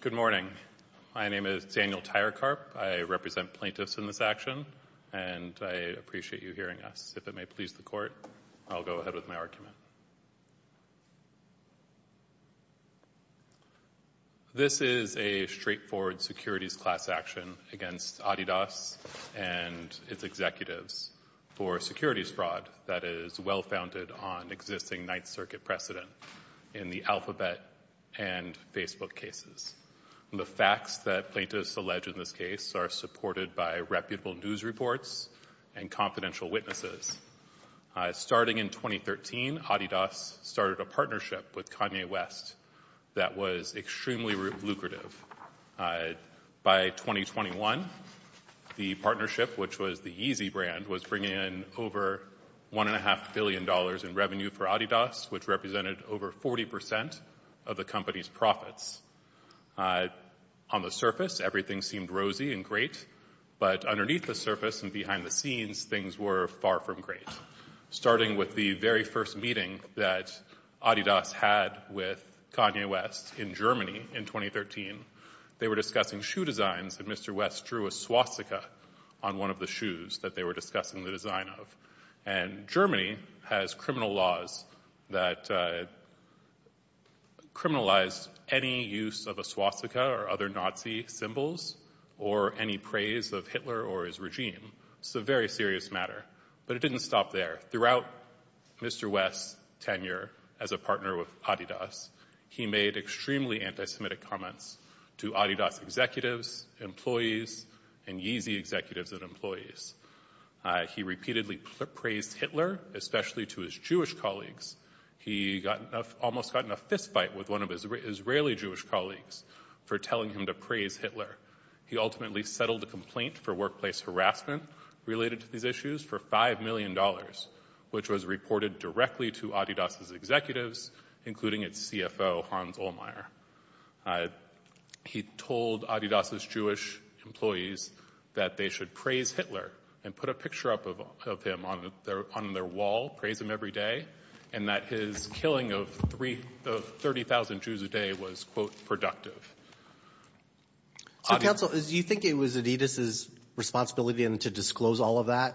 Good morning. My name is Daniel Tyrekarp. I represent plaintiffs in this action, and I appreciate you hearing us. If it may please the Court, I'll go ahead with my argument. This is a straightforward securities class action against Adidas and its executives for securities fraud that is well-founded on existing Ninth Circuit precedent in the Alphabet and Facebook cases. The facts that plaintiffs allege in this case are supported by reputable news reports and confidential witnesses. Starting in 2013, Adidas started a partnership with Kanye West that was extremely lucrative. By 2021, the partnership, which was the Yeezy brand, was bringing in over $1.5 billion in revenue for Adidas, which represented over 40 percent of the company's profits. On the surface, everything seemed rosy and great, but underneath the surface and behind the scenes, things were far from great. Starting with the very first meeting that Adidas had with Kanye West in Germany in 2013, they were discussing shoe designs, and Mr. West drew a swastika on one of the shoes that they were discussing the design of. And Germany has criminal laws that criminalize any use of a swastika or other Nazi symbols, or any praise of Hitler or his regime. It's a very serious matter. But it didn't stop there. Throughout Mr. West's tenure as a partner with Adidas, he made extremely anti-Semitic comments to Adidas executives, employees, and Yeezy executives and employees. He repeatedly praised Hitler, especially to his Jewish colleagues. He almost got in a fistfight with one of his Israeli Jewish colleagues for telling him to praise Hitler. He ultimately settled a complaint for workplace harassment related to these issues for $5 million, which was reported directly to Adidas' executives, including its CFO, Hans that they should praise Hitler and put a picture up of him on their wall, praise him every day, and that his killing of 30,000 Jews a day was, quote, productive. So, counsel, do you think it was Adidas' responsibility to disclose all of that?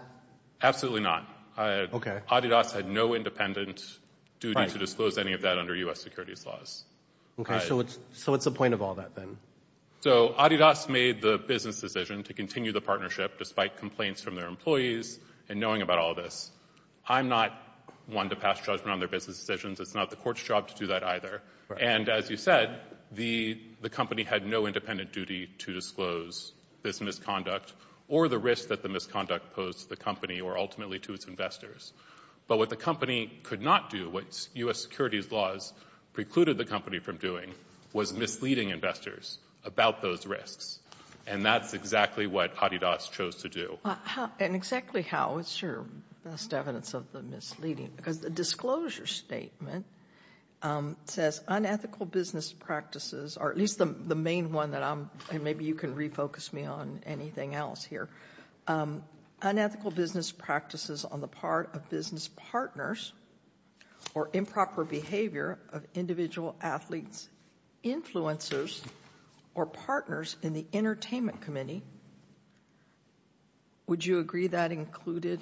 Absolutely not. Adidas had no independent duty to disclose any of that under U.S. continue the partnership despite complaints from their employees and knowing about all of this. I'm not one to pass judgment on their business decisions. It's not the court's job to do that either. And as you said, the company had no independent duty to disclose this misconduct or the risk that the misconduct posed to the company or ultimately to its investors. But what the company could not do, what U.S. securities laws precluded the company from doing, was misleading investors about those risks. And that's exactly what Adidas chose to do. And exactly how is your best evidence of the misleading? Because the disclosure statement says unethical business practices, or at least the main one that I'm, and maybe you can refocus me on anything else here, unethical business practices on the part of business partners or improper behavior of individual athletes, influencers or partners in the entertainment committee. Would you agree that included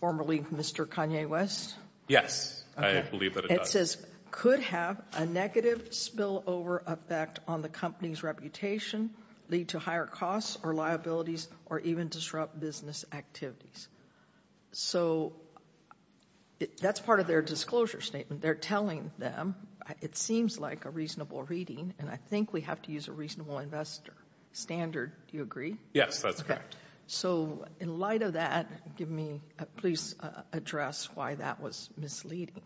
formerly Mr. Kanye West? Yes, I believe that it does. It says could have a negative spillover effect on the company's reputation, lead to higher costs or liabilities or even disrupt business activities. So that's part of their disclosure statement. They're telling them it seems like a reasonable reading and I think we have to use a reasonable investor standard. Do you agree? Yes, that's correct. So in light of that, give me, please address why that was misleading.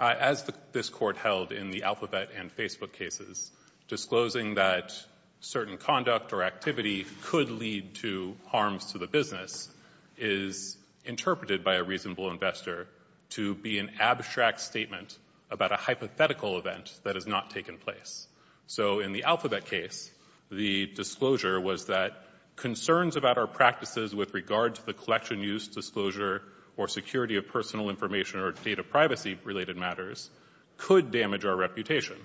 As this court held in the Alphabet and Facebook cases, disclosing that certain conduct or activity could lead to harms to the business is interpreted by a reasonable investor to be an abstract statement about a hypothetical event that has not taken place. So in the Alphabet case, the disclosure was that concerns about our practices with regard to the collection use disclosure or security of personal information or data privacy related matters could damage our reputation,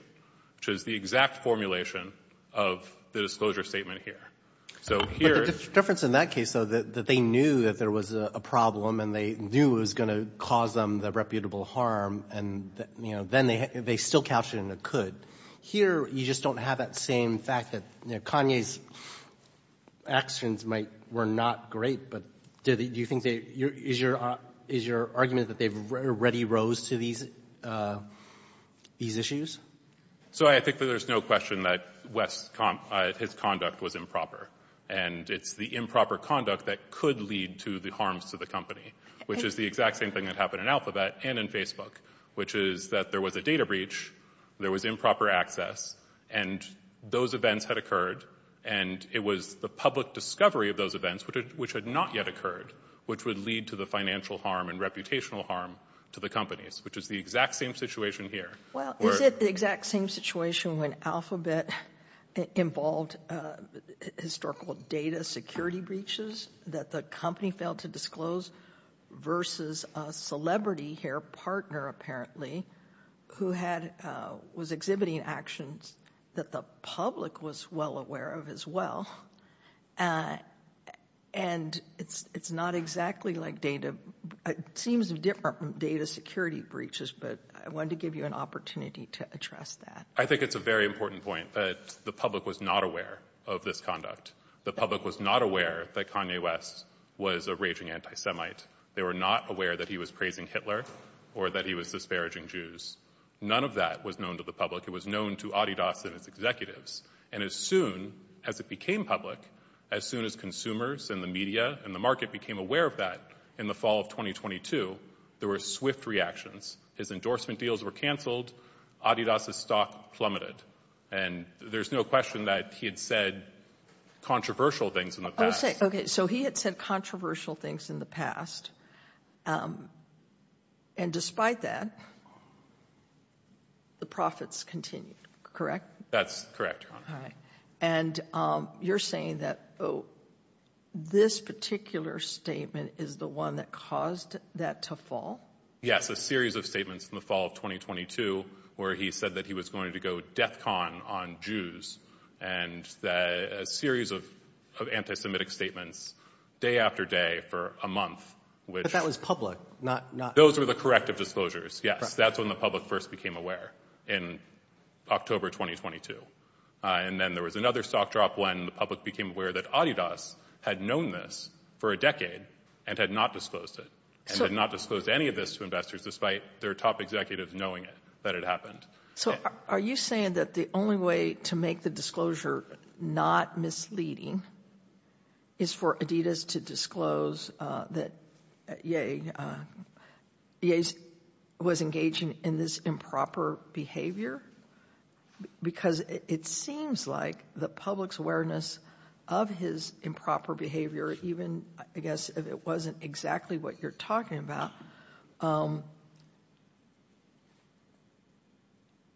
which is the exact formulation of the disclosure statement here. But the difference in that case though, that they knew that there was a problem and they knew it was going to cause them the reputable harm and then they still captured it in a could. Here, you just don't have that same fact that Kanye's actions were not great, but do you think they is your argument that they've already rose to these issues? So I think that there's no question that his conduct was improper and it's the improper conduct that could lead to the harms to the company, which is the exact same thing that happened in Alphabet and in Facebook, which is that there was a data breach, there was improper access and those events had occurred and it was the public discovery of those events, which had not yet occurred, which would lead to the financial harm and reputational harm to the companies, which is the exact same situation here. Well, is it the exact same situation when Alphabet involved historical data security breaches that the company failed to disclose versus a celebrity partner, apparently, who was exhibiting actions that the public was well aware of as well? And it's not exactly like data, it seems different from data security breaches, but I wanted to give you an opportunity to address that. I think it's a very important point that the public was not aware of this conduct. The public was not aware that Kanye West was a raging anti-Semite. They were not aware that he was praising Hitler or that he was disparaging Jews. None of that was known to the public. It was known to Adidas and its executives. And as soon as it became public, as soon as consumers and the media and the market became aware of that in the fall of 2022, there were swift reactions. His endorsement deals were canceled, Adidas' stock plummeted, and there's no question that he had said controversial things in the past. Okay, so he had said controversial things in the past, and despite that, the profits continued, correct? That's correct. All right. And you're saying that this particular statement is the one that caused that to fall? Yes, a series of statements in the fall of 2022 where he said that he was going to go DEFCON on Jews, and a series of anti-Semitic statements day after day for a month. But that was public. Those were the corrective disclosures, yes. That's when the public first became aware in October 2022. And then there was another stock drop when the public became aware that Adidas had known this for a decade and had not disclosed it, and had not disclosed any of this to investors despite their top executives knowing it, that it happened. So are you saying that the only way to make the disclosure not misleading is for Adidas to disclose that Ye was engaging in this improper behavior? Because it seems like the public's awareness of his improper behavior, even I guess if it wasn't exactly what you're asking, is not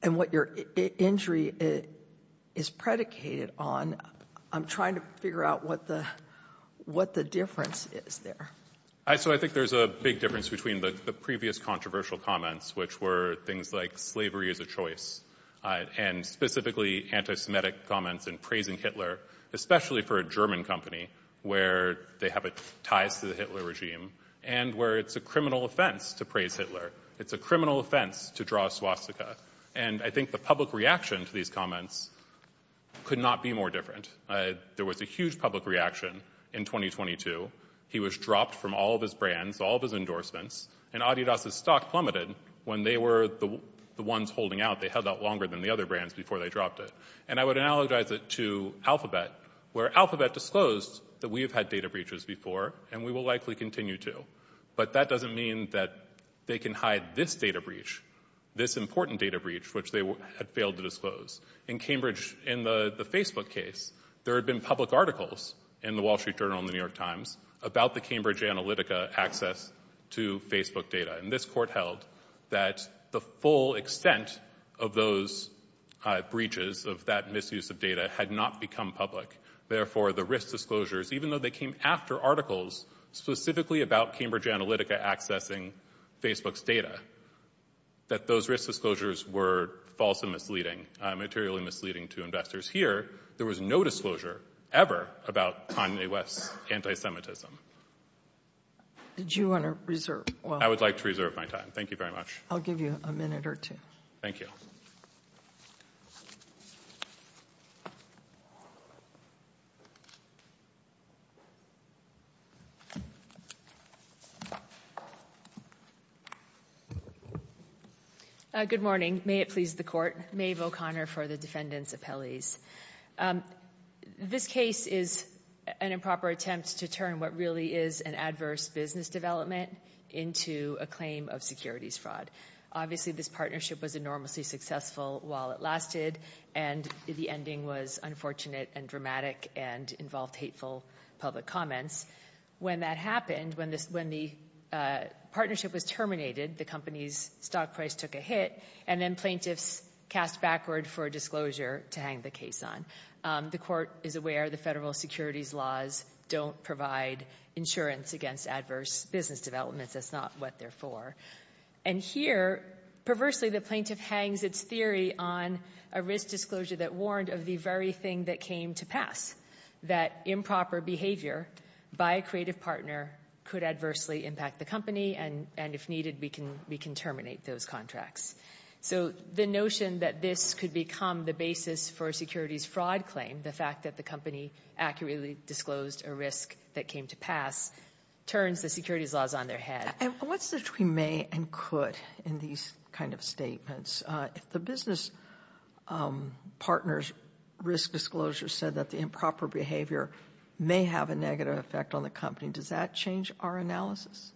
missing. So I think there's a big difference between the previous controversial comments, which were things like slavery is a choice, and specifically anti-Semitic comments in praising Hitler, especially for a German company where they have ties to the Hitler regime, and where it's a criminal offense to praise Hitler. It's a criminal offense to draw a swastika. And I think the public reaction to these comments could not be more different. There was a huge public reaction in 2022. He was dropped from all of his brands, all of his endorsements, and Adidas' stock plummeted when they were the ones holding out. They held out longer than the other brands before they dropped it. And I would analogize it to Alphabet, where Alphabet disclosed that we have had data breaches before, and we will likely continue to. But that doesn't mean that they can hide this data breach, this important data breach, which they had failed to disclose. In Cambridge, in the Facebook case, there had been public articles in the Wall Street Journal and the New York Times about the Cambridge Analytica access to Facebook data. And this court held that the full extent of those breaches, of that misuse of data, had not become public. Therefore, the risk disclosures, even though they came after articles specifically about Cambridge materially misleading to investors here, there was no disclosure ever about Kanye West's anti-Semitism. Did you want to reserve? I would like to reserve my time. Thank you very much. I'll give you a minute or two. Thank you. Uh, good morning. May it please the court. Maeve O'Connor for the defendant's appellees. This case is an improper attempt to turn what really is an adverse business development into a claim of securities fraud. Obviously, this partnership was enormously successful while it lasted, and the ending was unfortunate and dramatic and involved hateful public comments. When that happened, when this, when the partnership was terminated, the company's stock price took a hit, and then plaintiffs cast backward for a disclosure to hang the case on. The court is aware the federal securities laws don't provide insurance against adverse business developments. That's not what they're for. And here, perversely, the plaintiff hangs its theory on a risk disclosure that warned of the very thing that came to pass, that improper behavior by a creative partner could adversely impact the company, and if needed, we can terminate those contracts. So the notion that this could become the basis for a securities fraud claim, the fact that the company accurately disclosed a risk that came to pass, turns the securities laws on their head. And what's the between may and could in these kind of statements? If the business partner's risk disclosure said that the improper behavior may have a negative effect on the company, does that change our analysis?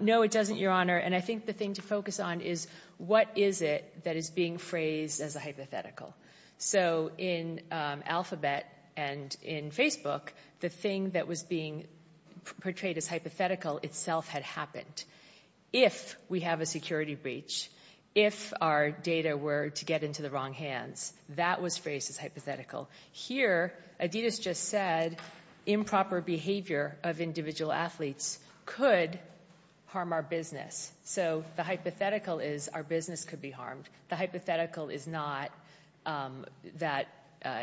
No, it doesn't, Your Honor, and I think the thing to focus on is what is it that is being phrased as a hypothetical? So in Alphabet and in Facebook, the thing that was being portrayed as hypothetical itself had happened. If we have a security breach, if our data were to get into the wrong hands, that was phrased as hypothetical. Here, Adidas just said improper behavior of individual athletes could harm our business. So the hypothetical is our business could be harmed. The hypothetical is not that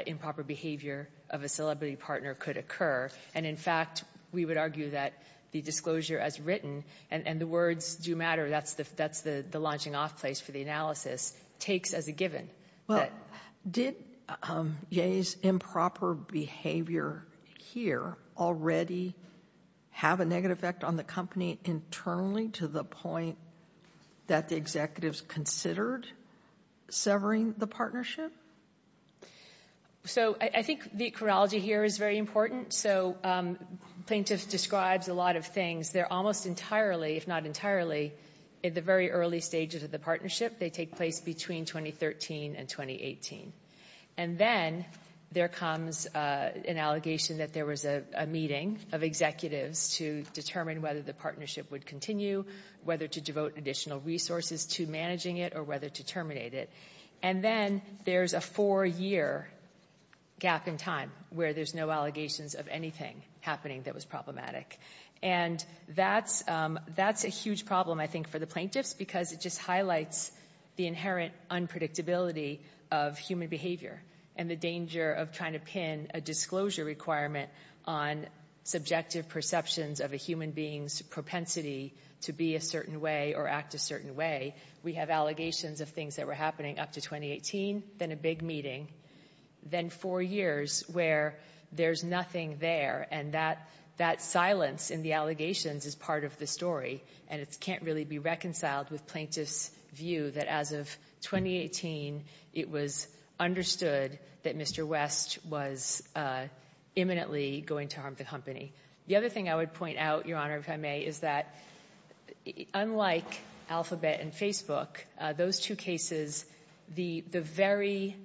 improper behavior of a celebrity partner could occur, and in fact, we would argue that the disclosure as written, and the words do matter, that's the launching off place for the analysis, takes as a given. Well, did Ye's improper behavior here already have a negative effect on the company internally to the point that the executives considered severing the partnership? So I think the chronology here is very important. So plaintiff describes a lot of things. They're almost entirely, if not entirely, at the very early stages of the partnership. They take place between 2013 and 2018. And then there comes an allegation that there was a meeting of executives to determine whether the partnership would continue, whether to devote additional resources to managing it, or whether to terminate it. And then there's a four-year gap in time where there's no allegations of anything happening that was problematic. And that's a huge problem, I think, for the plaintiffs because it just highlights the inherent unpredictability of human behavior and the danger of trying to pin a disclosure requirement on subjective perceptions of a human being's propensity to be a certain way or act a certain way. We have allegations of things that were happening up to 2018, then a big meeting, then four years where there's nothing there. And that silence in the allegations is part of the story, and it can't really be reconciled with plaintiffs' view that as of 2018, it was understood that Mr. West was imminently going to harm the company. The other thing I would point out, Your Honor, if I may, is that unlike Alphabet and Facebook, those two cases, the very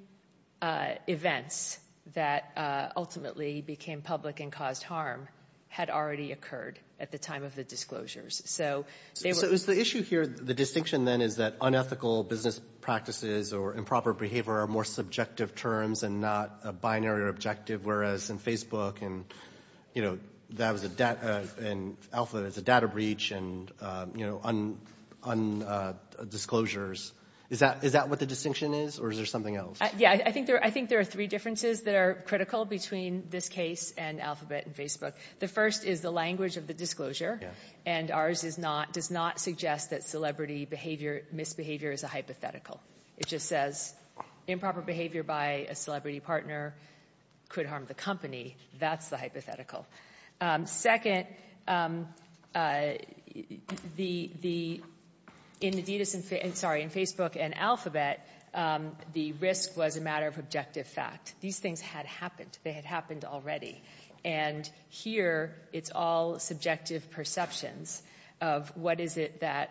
events that ultimately became public and caused harm had already occurred at the time of the disclosures. So they were — the distinction then is that unethical business practices or improper behavior are more subjective terms and not a binary objective, whereas in Facebook and Alphabet, it's a data breach and disclosures. Is that what the distinction is, or is there something else? Yeah, I think there are three differences that are critical between this case and Alphabet and Facebook. The first is the language of the disclosure, and ours does not suggest that celebrity misbehavior is a hypothetical. It just says improper behavior by a celebrity partner could harm the company. That's the hypothetical. Second, in Facebook and Alphabet, the risk was a matter of objective fact. These things had happened. They had happened already. And here, it's all subjective perceptions of what is it that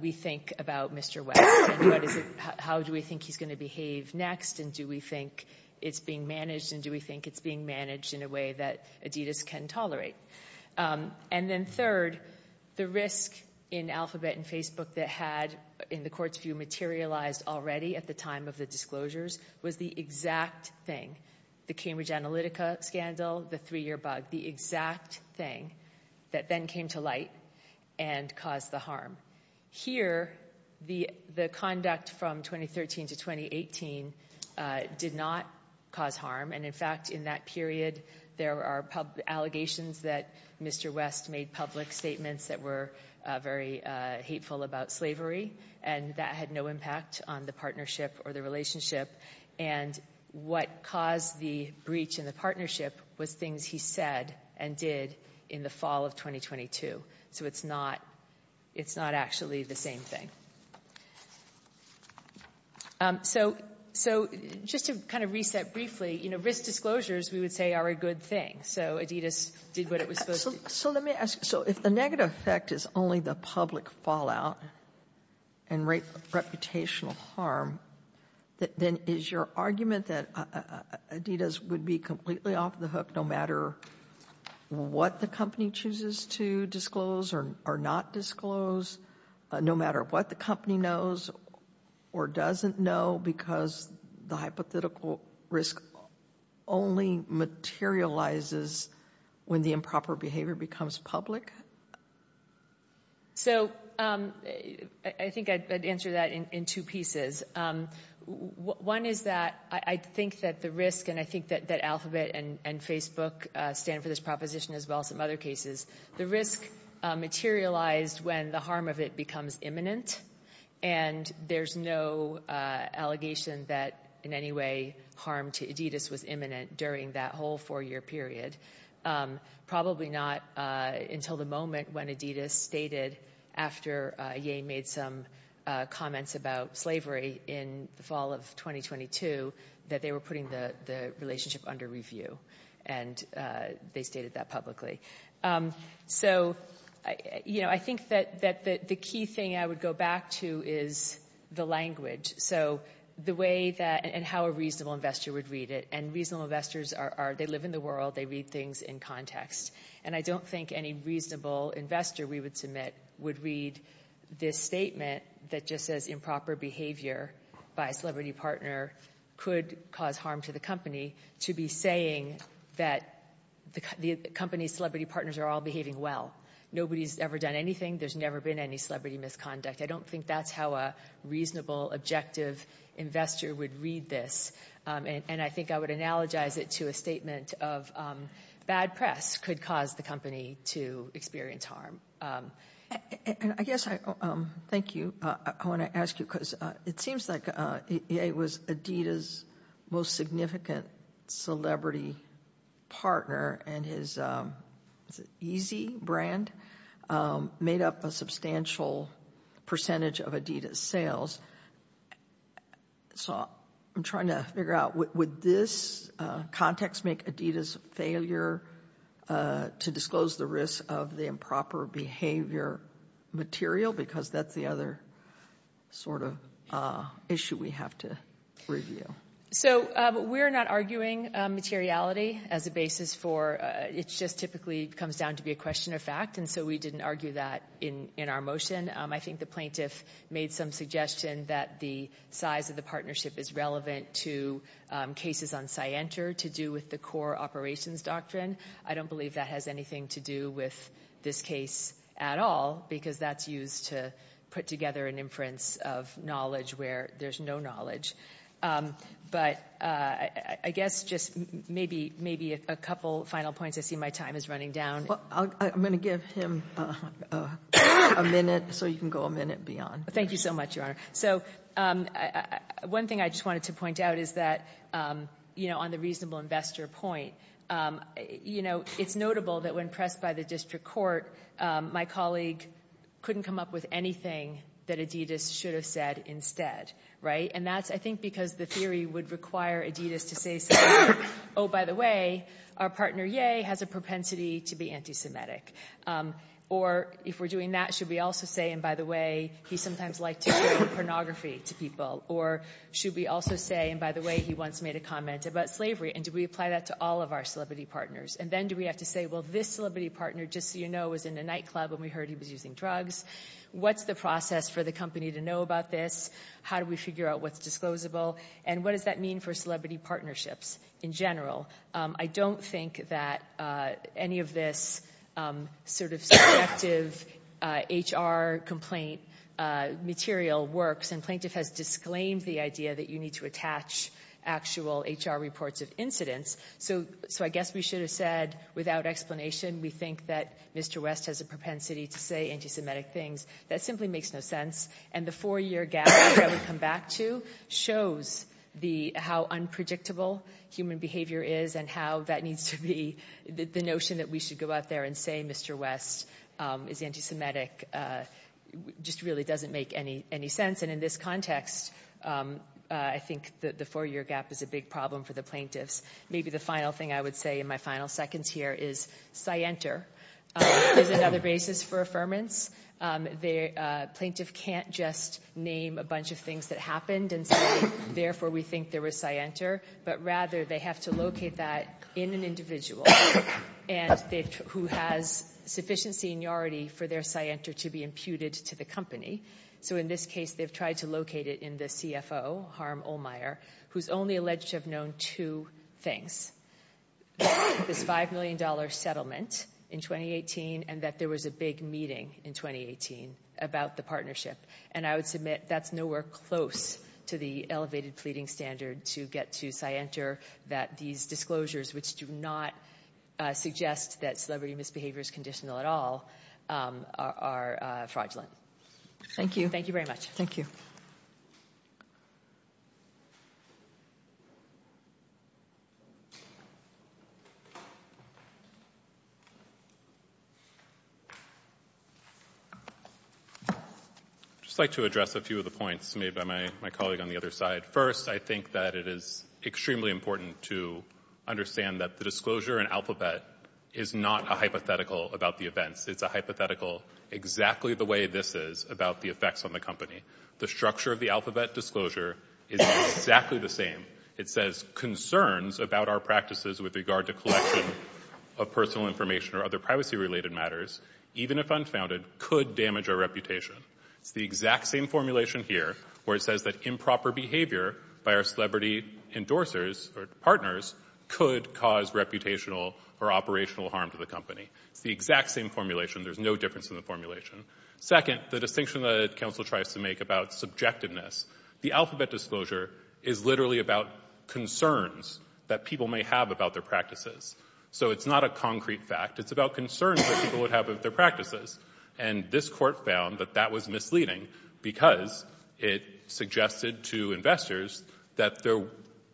we think about Mr. West, and how do we think he's going to behave next, and do we think it's being managed, and do we think it's being managed in a way that Adidas can tolerate? And then third, the risk in Alphabet and Facebook that had, in the Court's view, materialized already at the time of the disclosures was the exact thing, the Cambridge Analytica scandal, the three-year bug, the exact thing that then came to light and caused the harm. Here, the conduct from 2013 to 2018 did not cause harm, and in fact, in that period, there are allegations that Mr. West made public statements that were very hateful about slavery, and that had no impact on the partnership or the relationship. And what caused the breach in the partnership was things he said and did in the fall of 2022. So it's not actually the same thing. So just to kind of reset briefly, you know, risk disclosures, we would say, are a good thing. So Adidas did what it was supposed to. So let me ask, so if the negative effect is only the public fallout and reputational harm, then is your argument that Adidas would be completely off the hook no matter what the company chooses to disclose or not disclose, no matter what the company knows or doesn't know because the hypothetical risk only materializes when the improper behavior becomes public? So I think I'd answer that in two pieces. One is that I think that the risk, and I think that Alphabet and Facebook stand for this proposition as well as some other cases, the risk materialized when the harm of it becomes imminent. And there's no allegation that in any way harm to Adidas was imminent during that whole four-year period. Probably not until the moment when Adidas stated after Ye made some comments about slavery in the fall of 2022 that they were putting the relationship under review. And they stated that publicly. So I think that the key thing I would go back to is the language. So the way that, and how a reasonable investor would read it. And reasonable investors, they live in the world, they read things in context. And I don't think any reasonable investor we would submit would read this statement that just says improper behavior by a celebrity partner could cause harm to the to be saying that the company's celebrity partners are all behaving well. Nobody's ever done anything. There's never been any celebrity misconduct. I don't think that's how a reasonable, objective investor would read this. And I think I would analogize it to a statement of bad press could cause the company to experience harm. And I guess I, thank you. I want to ask you it seems like it was Adidas' most significant celebrity partner and his Yeezy brand made up a substantial percentage of Adidas' sales. So I'm trying to figure out would this context make Adidas' failure to disclose the risk of the behavior material? Because that's the other sort of issue we have to review. So we're not arguing materiality as a basis for, it just typically comes down to be a question of fact. And so we didn't argue that in our motion. I think the plaintiff made some suggestion that the size of the partnership is relevant to cases on Scienter to do with the core operations doctrine. I don't believe that has anything to do with this case at all because that's used to put together an inference of knowledge where there's no knowledge. But I guess just maybe a couple final points. I see my time is running down. I'm going to give him a minute so you can go a minute beyond. Thank you so much, Your Honor. So one thing I just wanted to point out is that on the reasonable investor point, you know, it's notable that when pressed by the district court, my colleague couldn't come up with anything that Adidas should have said instead, right? And that's, I think, because the theory would require Adidas to say something like, oh, by the way, our partner, yay, has a propensity to be anti-Semitic. Or if we're doing that, should we also say, and by the way, he sometimes liked to do pornography to people? Or should we also say, and by the way, he once made a comment about slavery, and do we apply that to all of our celebrity partners? And then do we have to say, well, this celebrity partner, just so you know, was in a nightclub when we heard he was using drugs. What's the process for the company to know about this? How do we figure out what's disclosable? And what does that mean for celebrity partnerships in general? I don't think that any of this sort of subjective HR complaint material works. And the plaintiff has disclaimed the idea that you need to attach actual HR reports of incidents. So I guess we should have said, without explanation, we think that Mr. West has a propensity to say anti-Semitic things. That simply makes no sense. And the four-year gap that we come back to shows how unpredictable human behavior is and how that needs to be, the notion that we should go out there and say Mr. West is anti-Semitic just really doesn't make any sense. And in this context, I think that the four-year gap is a big problem for the plaintiffs. Maybe the final thing I would say in my final seconds here is scienter is another basis for affirmance. The plaintiff can't just name a bunch of things that happened and say, therefore, we think there was scienter. But rather, they have to locate that in an individual who has sufficient seniority for their scienter to be imputed to the company. So in this case, they've tried to locate it in the CFO, Harm Ohlmeyer, who's only alleged to have known two things. This $5 million settlement in 2018 and that there was a big meeting in 2018 about the partnership. And I would submit that's nowhere close to the elevated pleading standard to get to scienter that these disclosures, which do not suggest that celebrity misbehavior is conditional at all, are fraudulent. Thank you. Thank you very much. Thank you. I'd just like to address a few of the points made by my colleague on the other side. First, I think that it is extremely important to understand that the disclosure and alphabet is not a hypothetical about the events. It's a hypothetical exactly the way this is about the effects on the company. The structure of the alphabet disclosure is exactly the same. It says concerns about our practices with regard to collection of personal information or other privacy related matters, even if unfounded, could damage our reputation. It's the exact same formulation here where it endorsers or partners could cause reputational or operational harm to the company. It's the exact same formulation. There's no difference in the formulation. Second, the distinction that counsel tries to make about subjectiveness, the alphabet disclosure is literally about concerns that people may have about their practices. So it's not a concrete fact. It's about concerns that people would have of their practices. And this court found that that was misleading because it suggested to investors that there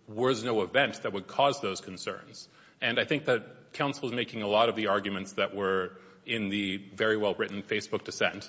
was no event that would cause those concerns. And I think that counsel is making a lot of the arguments that were in the very well-written Facebook dissent,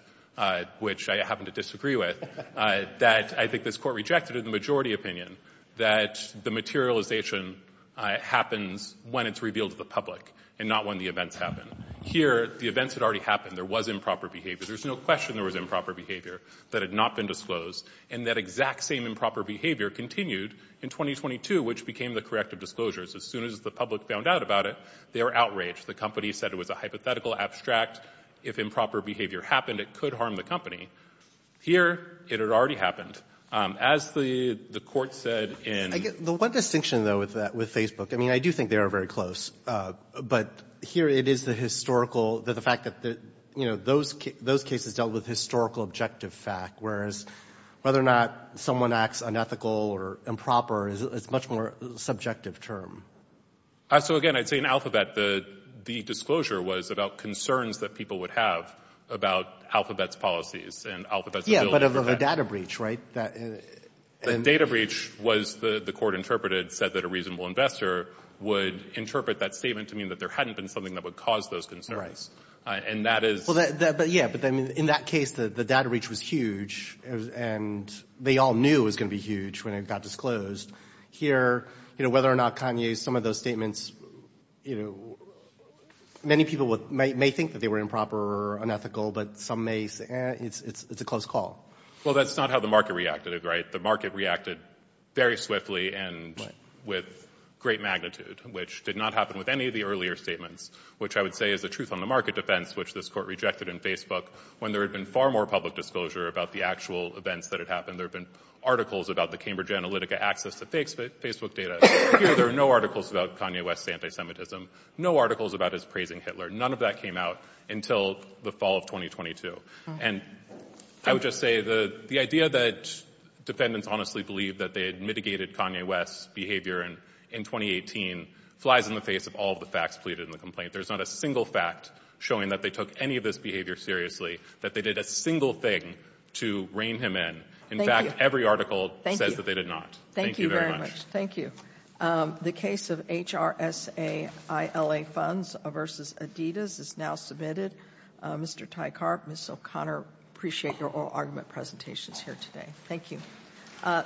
which I happen to disagree with, that I think this court rejected in the majority opinion that the materialization happens when it's revealed to the public and not when the events happen. Here, the events had already happened. There was improper behavior. There's no question there was improper behavior that had not been disclosed. And that exact same improper behavior continued in 2022, which became the corrective disclosures. As soon as the public found out about it, they were outraged. The company said it was a hypothetical abstract. If improper behavior happened, it could harm the company. Here, it had already happened. As the court said in... I guess the one distinction, though, with Facebook, I mean, I do think they are very close. But here, it is the historical, the fact that, you know, those cases dealt with historical objective fact, whereas whether or not someone acts unethical or improper is a much more subjective term. So, again, I'd say in Alphabet, the disclosure was about concerns that people would have about Alphabet's policies and Alphabet's ability to... Yeah, but of a data breach, right? The data breach was, the court interpreted, said that a reasonable investor would interpret that statement to mean that there hadn't been something that would cause those concerns. And that is... Well, yeah, but in that case, the data breach was huge, and they all knew it was going to be huge when it got disclosed. Here, you know, whether or not Kanye's, some of those statements, you know, many people may think that they were improper or unethical, but some may say, eh, it's a close call. Well, that's not how the market reacted, right? The market reacted very swiftly and with great magnitude, which did not happen with any of the earlier statements, which I would say is the truth on the market defense, which this court rejected in Facebook when there had been far more public disclosure about the actual events that had happened. There had been articles about the Cambridge Analytica access to Facebook data. Here, there are no articles about Kanye West's anti-Semitism, no articles about his praising Hitler. None of that came out until the fall of 2022. And I would just say the idea that defendants honestly believe that they had mitigated Kanye West's behavior in 2018 flies in the face of all the facts pleaded in the complaint. There's not a single fact showing that they took any of this behavior seriously, that they did a single thing to rein him in. In fact, every article says that they did not. Thank you very much. Thank you. The case of HRSA-ILA funds versus Adidas is now submitted. Mr. Tycarp, Ms. O'Connor, I appreciate your oral argument presentations here today. Thank you.